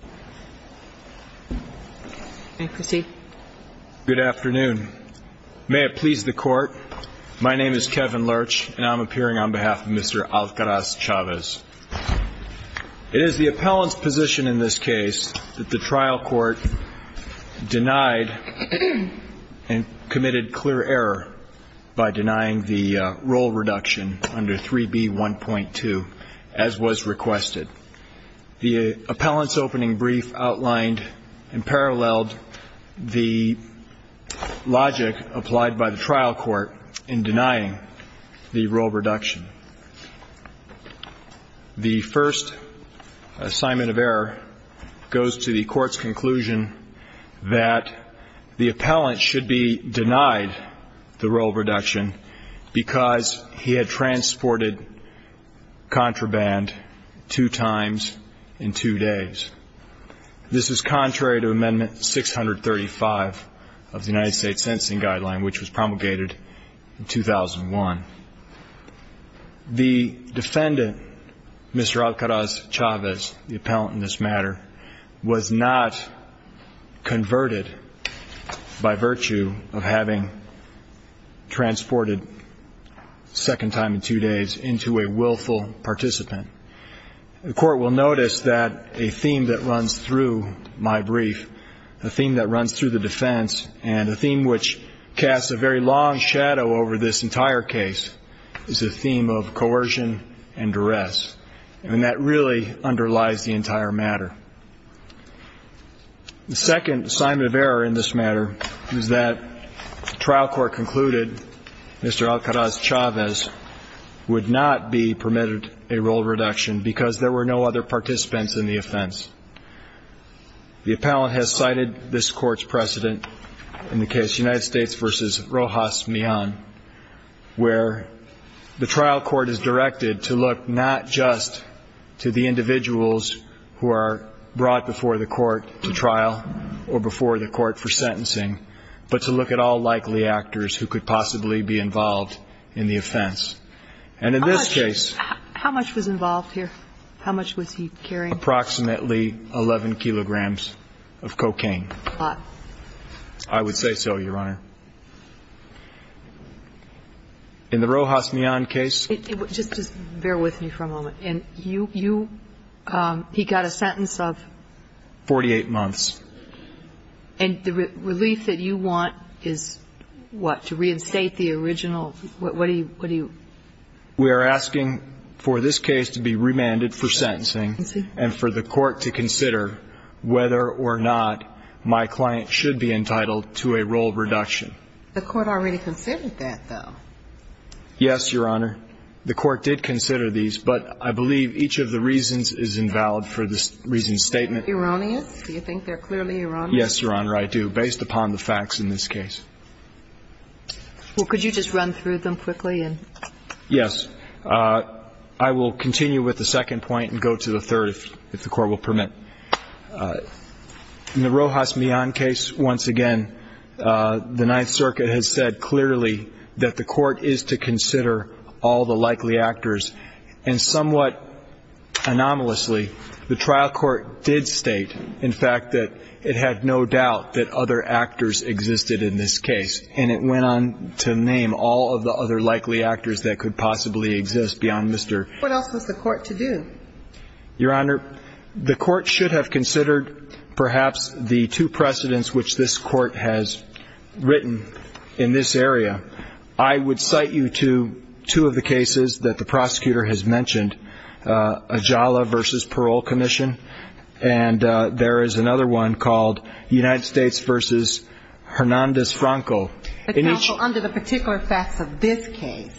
It is the appellant's position in this case that the trial court denied and committed clear error by denying the roll reduction under 3B1.2 as was requested. The appellant's opening brief outlined and paralleled the logic applied by the trial court in denying the roll reduction. The first assignment of error goes to the court's conclusion that the appellant should be denied the roll reduction because he had transported contraband two times in two days. This is contrary to Amendment 635 of the United States Sentencing Guideline, which was promulgated in 2001. The defendant, Mr. Alcaraz-Chavez, the appellant in this matter, was not converted by virtue of having transported second time in two days into a The court will notice that a theme that runs through my brief, a theme that runs through the defense, and a theme which casts a very long shadow over this entire case, is a theme of coercion and duress, and that really underlies the entire matter. The second assignment of error in this matter is that the trial court concluded Mr. Alcaraz-Chavez would not be in the offense. The appellant has cited this court's precedent in the case United States v. Rojas Mian, where the trial court is directed to look not just to the individuals who are brought before the court to trial or before the court for sentencing, but to look at all likely actors who could possibly be involved in the offense. And in this case How much was involved here? How much was he carrying? Approximately 11 kilograms of cocaine. A lot. I would say so, Your Honor. In the Rojas Mian case Just bear with me for a moment. And you, you, he got a sentence of 48 months. And the relief that you want is what? To reinstate the original, what do you We are asking for this case to be remanded for sentencing and for the court to consider whether or not my client should be entitled to a role reduction. The court already considered that, though. Yes, Your Honor. The court did consider these, but I believe each of the reasons is invalid for this reason statement. Erroneous? Do you think they're clearly erroneous? Yes, Your Honor, I do, based upon the facts in this case. Well, could you just run through them quickly? Yes. I will continue with the second point and go to the third, if the court will permit. In the Rojas Mian case, once again, the Ninth Circuit has said clearly that the court is to consider all the likely actors. And somewhat anomalously, the trial court did state, in this case. And it went on to name all of the other likely actors that could possibly exist beyond Mr. What else was the court to do? Your Honor, the court should have considered perhaps the two precedents which this court has written in this area. I would cite you to two of the cases that the prosecutor has referred to in this case. The first is Hernandez-Franco. But, counsel, under the particular facts of this case,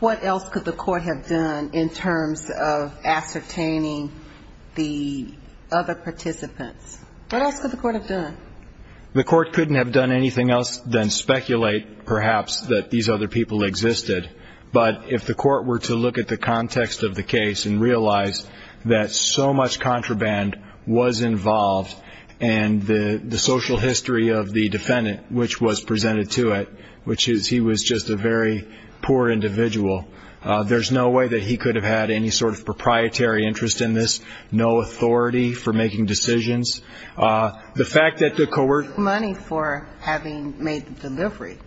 what else could the court have done in terms of ascertaining the other participants? What else could the court have done? The court couldn't have done anything else than speculate, perhaps, that these other people existed. But if the court were to look at the context of the case and realize that so much contraband was involved and the social history of the defendant, which was presented to it, which is he was just a very poor individual, there's no way that he could have had any sort of proprietary interest in this, no authority for making decisions. The fact that the co- Money for having made the delivery.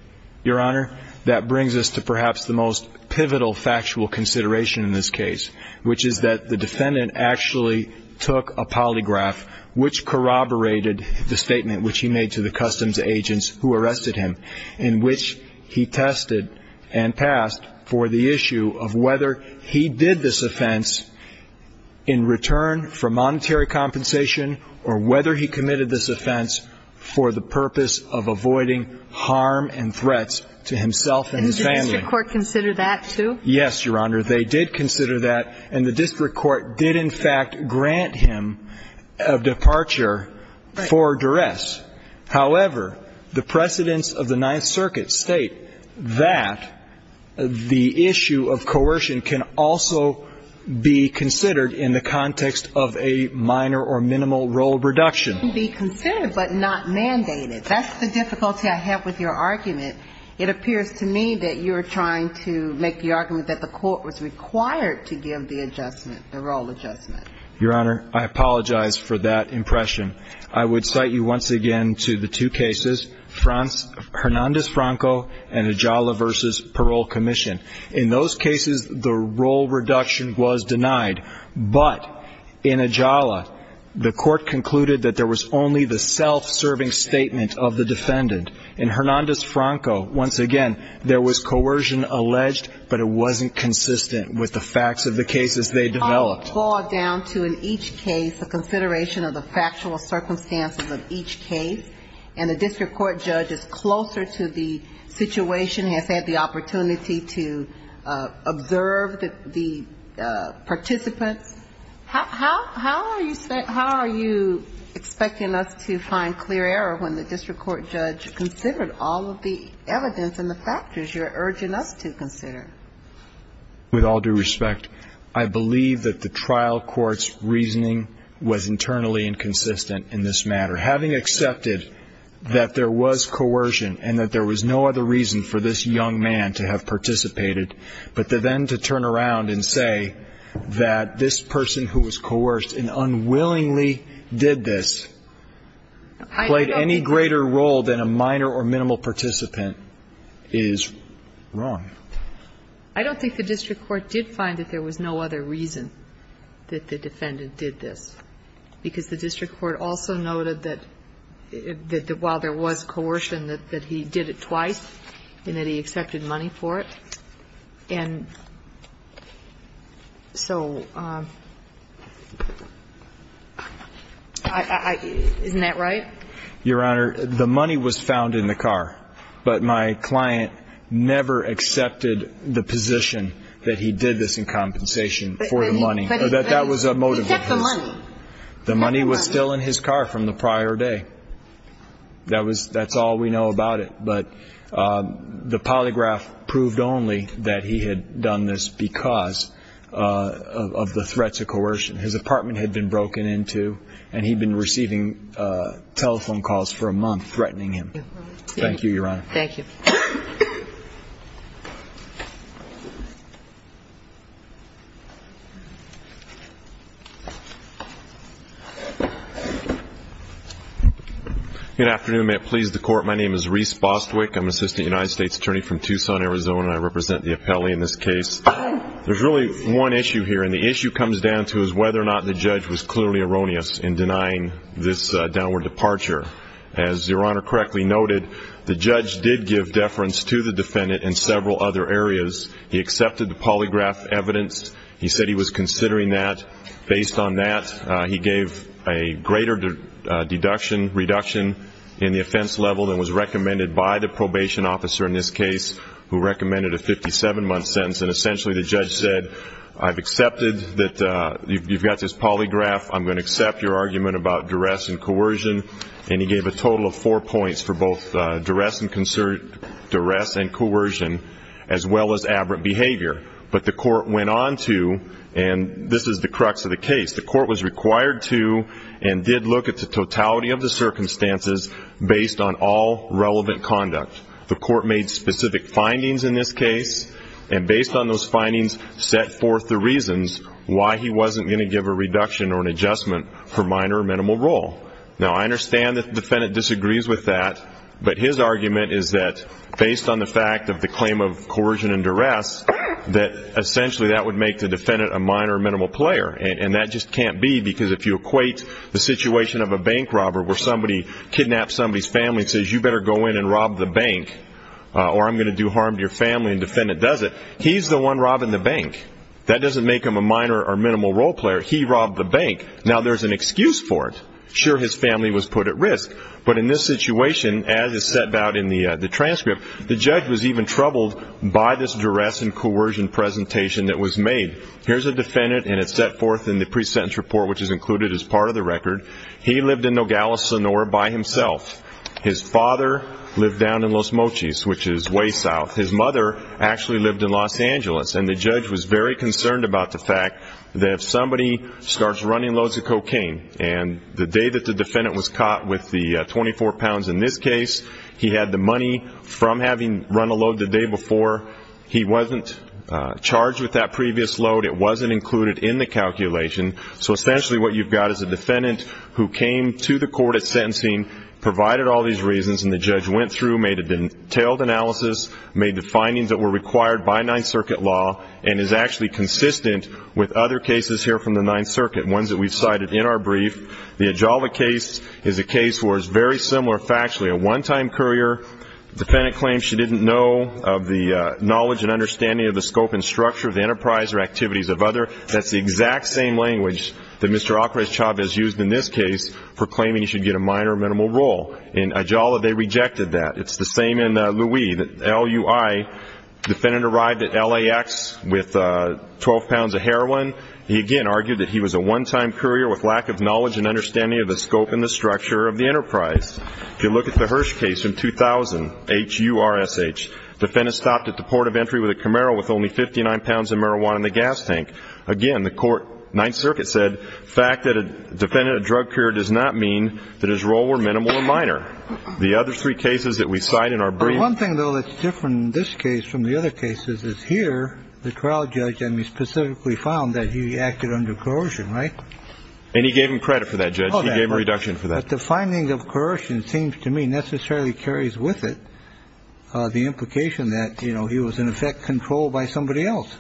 Your Honor, that brings us to perhaps the most pivotal factual consideration in this case, which is that the defendant actually took a polygraph, which corroborated the statement which he made to the customs agents who arrested him, in which he tested and passed for the issue of whether he did this offense in return for monetary compensation or whether he committed this offense for the purpose of avoiding harm and threats to himself and his family. And did the district court consider that, too? Yes, Your Honor. They did consider that, and the district court did, in fact, grant him a departure for duress. However, the precedents of the Ninth Circuit state that the issue of coercion can also be considered in the context of a minor or minimal role reduction. It can be considered but not mandated. That's the difficulty I have with your argument. It appears to me that you are trying to make the argument that the court was required to give the adjustment, the role adjustment. Your Honor, I apologize for that impression. I would cite you once again to the two cases, Hernandez-Franco and Ajala v. Parole Commission. In those cases, the role reduction was denied. But in Ajala, the court concluded that there was only the coercion alleged, but it wasn't consistent with the facts of the cases they developed. I would fall down to in each case a consideration of the factual circumstances of each case, and the district court judge is closer to the situation, has had the opportunity to observe the participants. How are you expecting us to find clear error when the district court judge considered all of the evidence and the factors you're urging us to consider? With all due respect, I believe that the trial court's reasoning was internally inconsistent in this matter. Having accepted that there was coercion and that there was no other reason for this young man to have participated, but then to turn around and say that this person who was coerced and unwillingly did this played any greater role than a minor or minimal participant is wrong. I don't think the district court did find that there was no other reason that the defendant did this, because the district court also noted that while there was coercion, that he did it twice and that he accepted money for it. And so I — isn't that right? Your Honor, the money was found in the car, but my client never accepted the position that he did this in compensation for the money, or that that was a motive of his. He kept the money. The money was still in his car from the prior day. That was — that's all we know about it. But the polygraph proved only that he had done this because of the threats of coercion. His apartment had been broken into, and he'd been receiving telephone calls for a month threatening him. Thank you, Your Honor. Thank you. Good afternoon. May it please the Court. My name is Rhys Bostwick. I'm an assistant United States attorney from Tucson, Arizona, and I represent the appellee in this case. There's really one issue here, and the issue comes down to is whether or not the judge was clearly erroneous in denying this downward departure. As Your Honor correctly noted, the judge did give deference to the defendant in several other areas. He accepted the polygraph evidence. He said he was considering that. Based on that, he gave a greater deduction — reduction in the offense level than was recommended by the probation officer in this case, who recommended a 57-month sentence. And essentially, the judge said, I've accepted that you've got this polygraph. I'm going to accept your argument about duress and coercion. And he gave a total of four points for both duress and coercion as well as aberrant behavior. But the court went on to — and this is the crux of the case — the court was required to and did look at the totality of the circumstances based on all relevant conduct. The court made specific findings in this case, and based on those findings, set forth the reasons why he wasn't going to give a reduction or an adjustment for minor or minimal role. Now, I understand that the defendant disagrees with that, but his argument is that based on the fact of the claim of coercion and duress, that essentially that would make the defendant a minor or minimal player. And that just can't be, because if you equate the bank, or I'm going to do harm to your family, and the defendant does it, he's the one robbing the bank. That doesn't make him a minor or minimal role player. He robbed the bank. Now, there's an excuse for it. Sure, his family was put at risk. But in this situation, as is set out in the transcript, the judge was even troubled by this duress and coercion presentation that was made. Here's a defendant, and it's set forth in the pre-sentence report, which is included as part of the record. He lived in Nogales, Sonora by himself. His father lived down in Los Mochis, which is way south. His mother actually lived in Los Angeles. And the judge was very concerned about the fact that if somebody starts running loads of cocaine, and the day that the defendant was caught with the 24 pounds in this case, he had the money from having run a load the day before. He wasn't charged with that previous load. It wasn't included in the record. The defendant, who came to the court at sentencing, provided all these reasons, and the judge went through, made a detailed analysis, made the findings that were required by Ninth Circuit law, and is actually consistent with other cases here from the Ninth Circuit, ones that we've cited in our brief. The Ajala case is a case where it's very similar factually. A one-time courier, the defendant claims she didn't know of the knowledge and understanding of the scope and structure of the enterprise or activities of the enterprise. If you look at the Hirsch case from 2000, H-U-R-S-H, the defendant stopped at the port of entry with a Camaro with only 59 pounds of the defendant had no knowledge of the scope and structure of the enterprise. Again, it's the same in L.U.I. The defendant arrived at L.A.X. with 12 pounds of heroin. He again argued that he was a one-time courier with lack of knowledge and understanding of the scope and the structure of the enterprise. If you look at the Hirsch case from 2000, H-U-R-S-H, the defendant stopped at the port of entry with a Camaro with only 59 pounds of marijuana in the gas tank. Again, the court, Ninth Circuit, said fact that a defendant of drug courier does not mean that his role were minimal or minor. The other three cases that we cite in our brief... One thing, though, that's different in this case from the other cases is here, the trial judge, I mean, specifically found that he acted under coercion, right? And he gave him credit for that, Judge. He gave a reduction for that. But the finding of coercion seems to me necessarily carries with it the implication that, you know, he was in effect controlled by somebody else.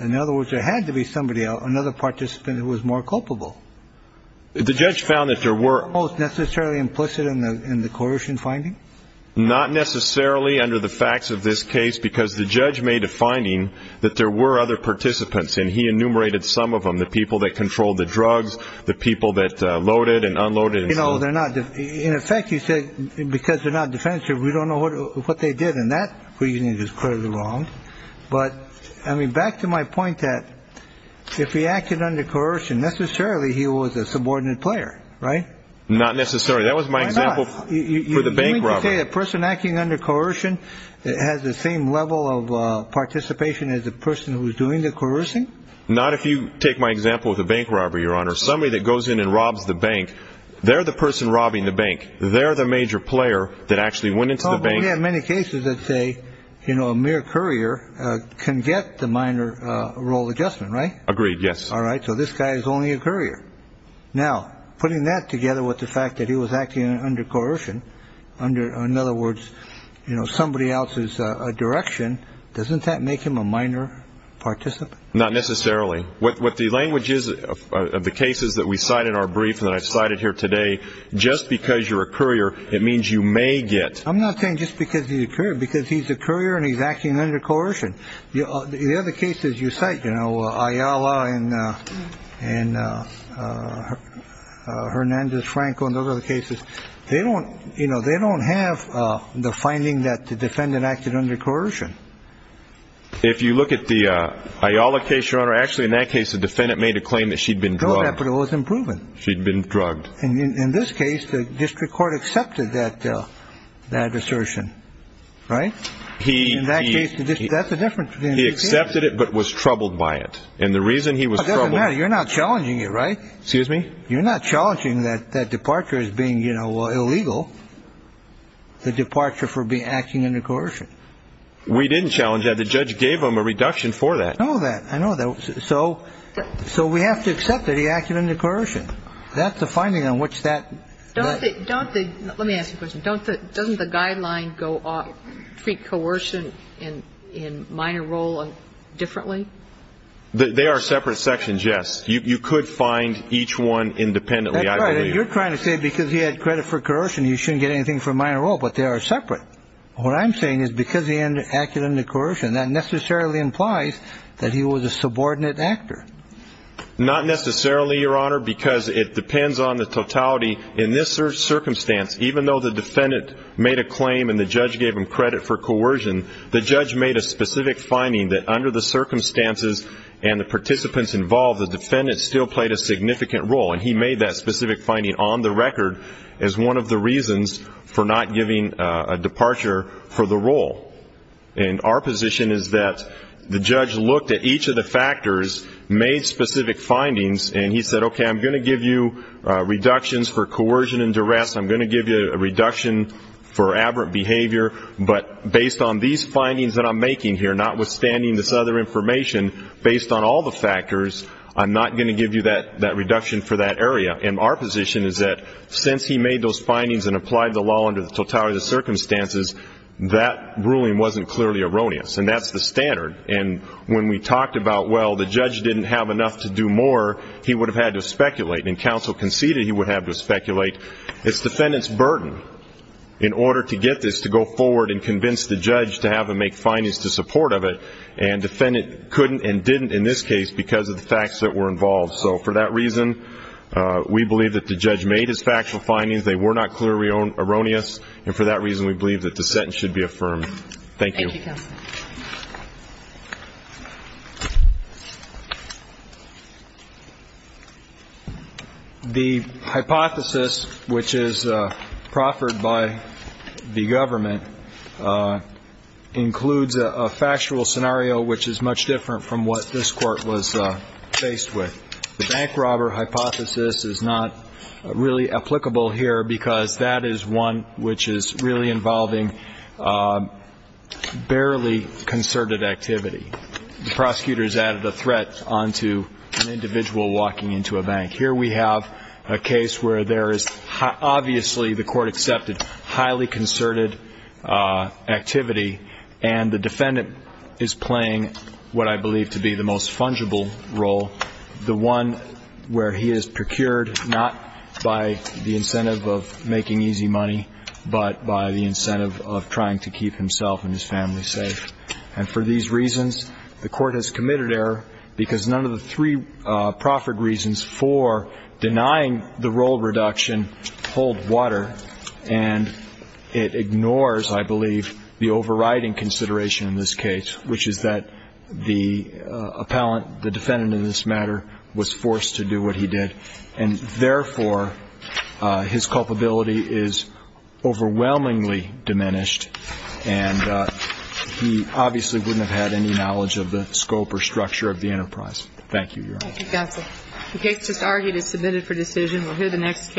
In other words, there had to be somebody, another participant who was more culpable. The judge found that there were... Most necessarily implicit in the coercion finding? Not necessarily under the facts of this case, because the judge made a finding that there were other participants, and he enumerated some of them, the people that controlled the drugs, the people that loaded and unloaded... You know, they're not... In effect, he said, because they're not defensive, we don't know what they did. And that, for you, is clearly wrong. But, I mean, back to my point that if he acted under coercion, necessarily he was a subordinate player, right? Not necessarily. That was my example for the bank robber. You mean to say a person acting under coercion has the same level of participation as a person who's doing the coercing? Not if you take my example of the bank robber, Your Honor. Somebody that goes in and robs the bank, they're the person robbing the bank. They're the major player that actually went into the bank... Oh, but we have many cases that say, you know, a mere courier can get the minor role adjustment, right? Agreed, yes. All right, so this guy is only a courier. Now, putting that together with the fact that he was acting under coercion, under, in other words, you know, somebody else's direction, doesn't that make him a minor participant? Not necessarily. What the language is of the cases that we cite in our brief that I've cited here today, just because you're a courier, it means you may get... I'm not saying just because he's a courier, because he's a courier and he's But in those cases you cite, you know, Ayala and Hernandez-Franco and those other cases, they don't, you know, they don't have the finding that the defendant acted under coercion. If you look at the Ayala case, Your Honor, actually in that case the defendant made a claim that she'd been drugged. No, but it wasn't proven. She'd been drugged. In this case, the district court accepted that assertion, right? In that case, that's the difference. He accepted it, but was troubled by it. And the reason he was troubled... It doesn't matter. You're not challenging it, right? Excuse me? You're not challenging that departure as being, you know, illegal, the departure for acting under coercion. We didn't challenge that. The judge gave him a reduction for that. I know that. So we have to accept that he acted under coercion. That's the finding on which that... Let me ask you a question. Doesn't the guideline treat coercion in minor role differently? They are separate sections, yes. You could find each one independently, I believe. That's right. And you're trying to say because he had credit for coercion, he shouldn't get anything for minor role, but they are separate. What I'm saying is because he acted under coercion, that necessarily implies that he was a subordinate actor. Not necessarily, Your Honor, because it depends on the totality. In this circumstance, even though the defendant made a claim and the judge gave him credit for coercion, the judge made a specific finding that under the circumstances and the participants involved, the defendant still played a significant role. And he made that specific finding on the record as one of the reasons for not giving a departure for the role. And our position is that the judge looked at each of the factors, made specific findings, and he said, okay, I'm going to give you reductions for coercion. I'm going to give you a reduction for coercion and duress. I'm going to give you a reduction for aberrant behavior. But based on these findings that I'm making here, notwithstanding this other information, based on all the factors, I'm not going to give you that reduction for that area. And our position is that since he made those findings and applied the law under the totality of the circumstances, that ruling wasn't clearly erroneous. And that's the standard. And when we talked about, well, the judge didn't have enough to do more, he would have had to speculate. And counsel conceded he would have to speculate. It's defendant's burden in order to get this to go forward and convince the judge to have him make findings to support of it. And defendant couldn't and didn't in this case because of the facts that were involved. So for that reason, we believe that the judge made his factual findings. They were not clearly erroneous. And for that reason, we believe that the sentence should be affirmed. Thank you. Thank you, counsel. The hypothesis, which is proffered by the government, includes a factual scenario which is much different from what this Court was faced with. The bank robber hypothesis is not really applicable here because that is one which is not applicable. It is one which is really involving barely concerted activity. The prosecutor has added a threat onto an individual walking into a bank. Here we have a case where there is obviously, the Court accepted, highly concerted activity. And the defendant is playing what I believe to be the most fungible role, the one where he is procured not by the incentive of making easy money, but by the fact that he is a bank robber. But by the incentive of trying to keep himself and his family safe. And for these reasons, the Court has committed error because none of the three proffered reasons for denying the role reduction hold water, and it ignores, I believe, the overriding consideration in this case, which is that the appellant, the defendant in this matter, was forced to do what he did. And therefore, his culpability is overwhelming. diminished, and he obviously wouldn't have had any knowledge of the scope or structure of the enterprise. Thank you, Your Honor. Thank you, Counsel. The case just argued is submitted for decision. We'll hear the next case in a moment.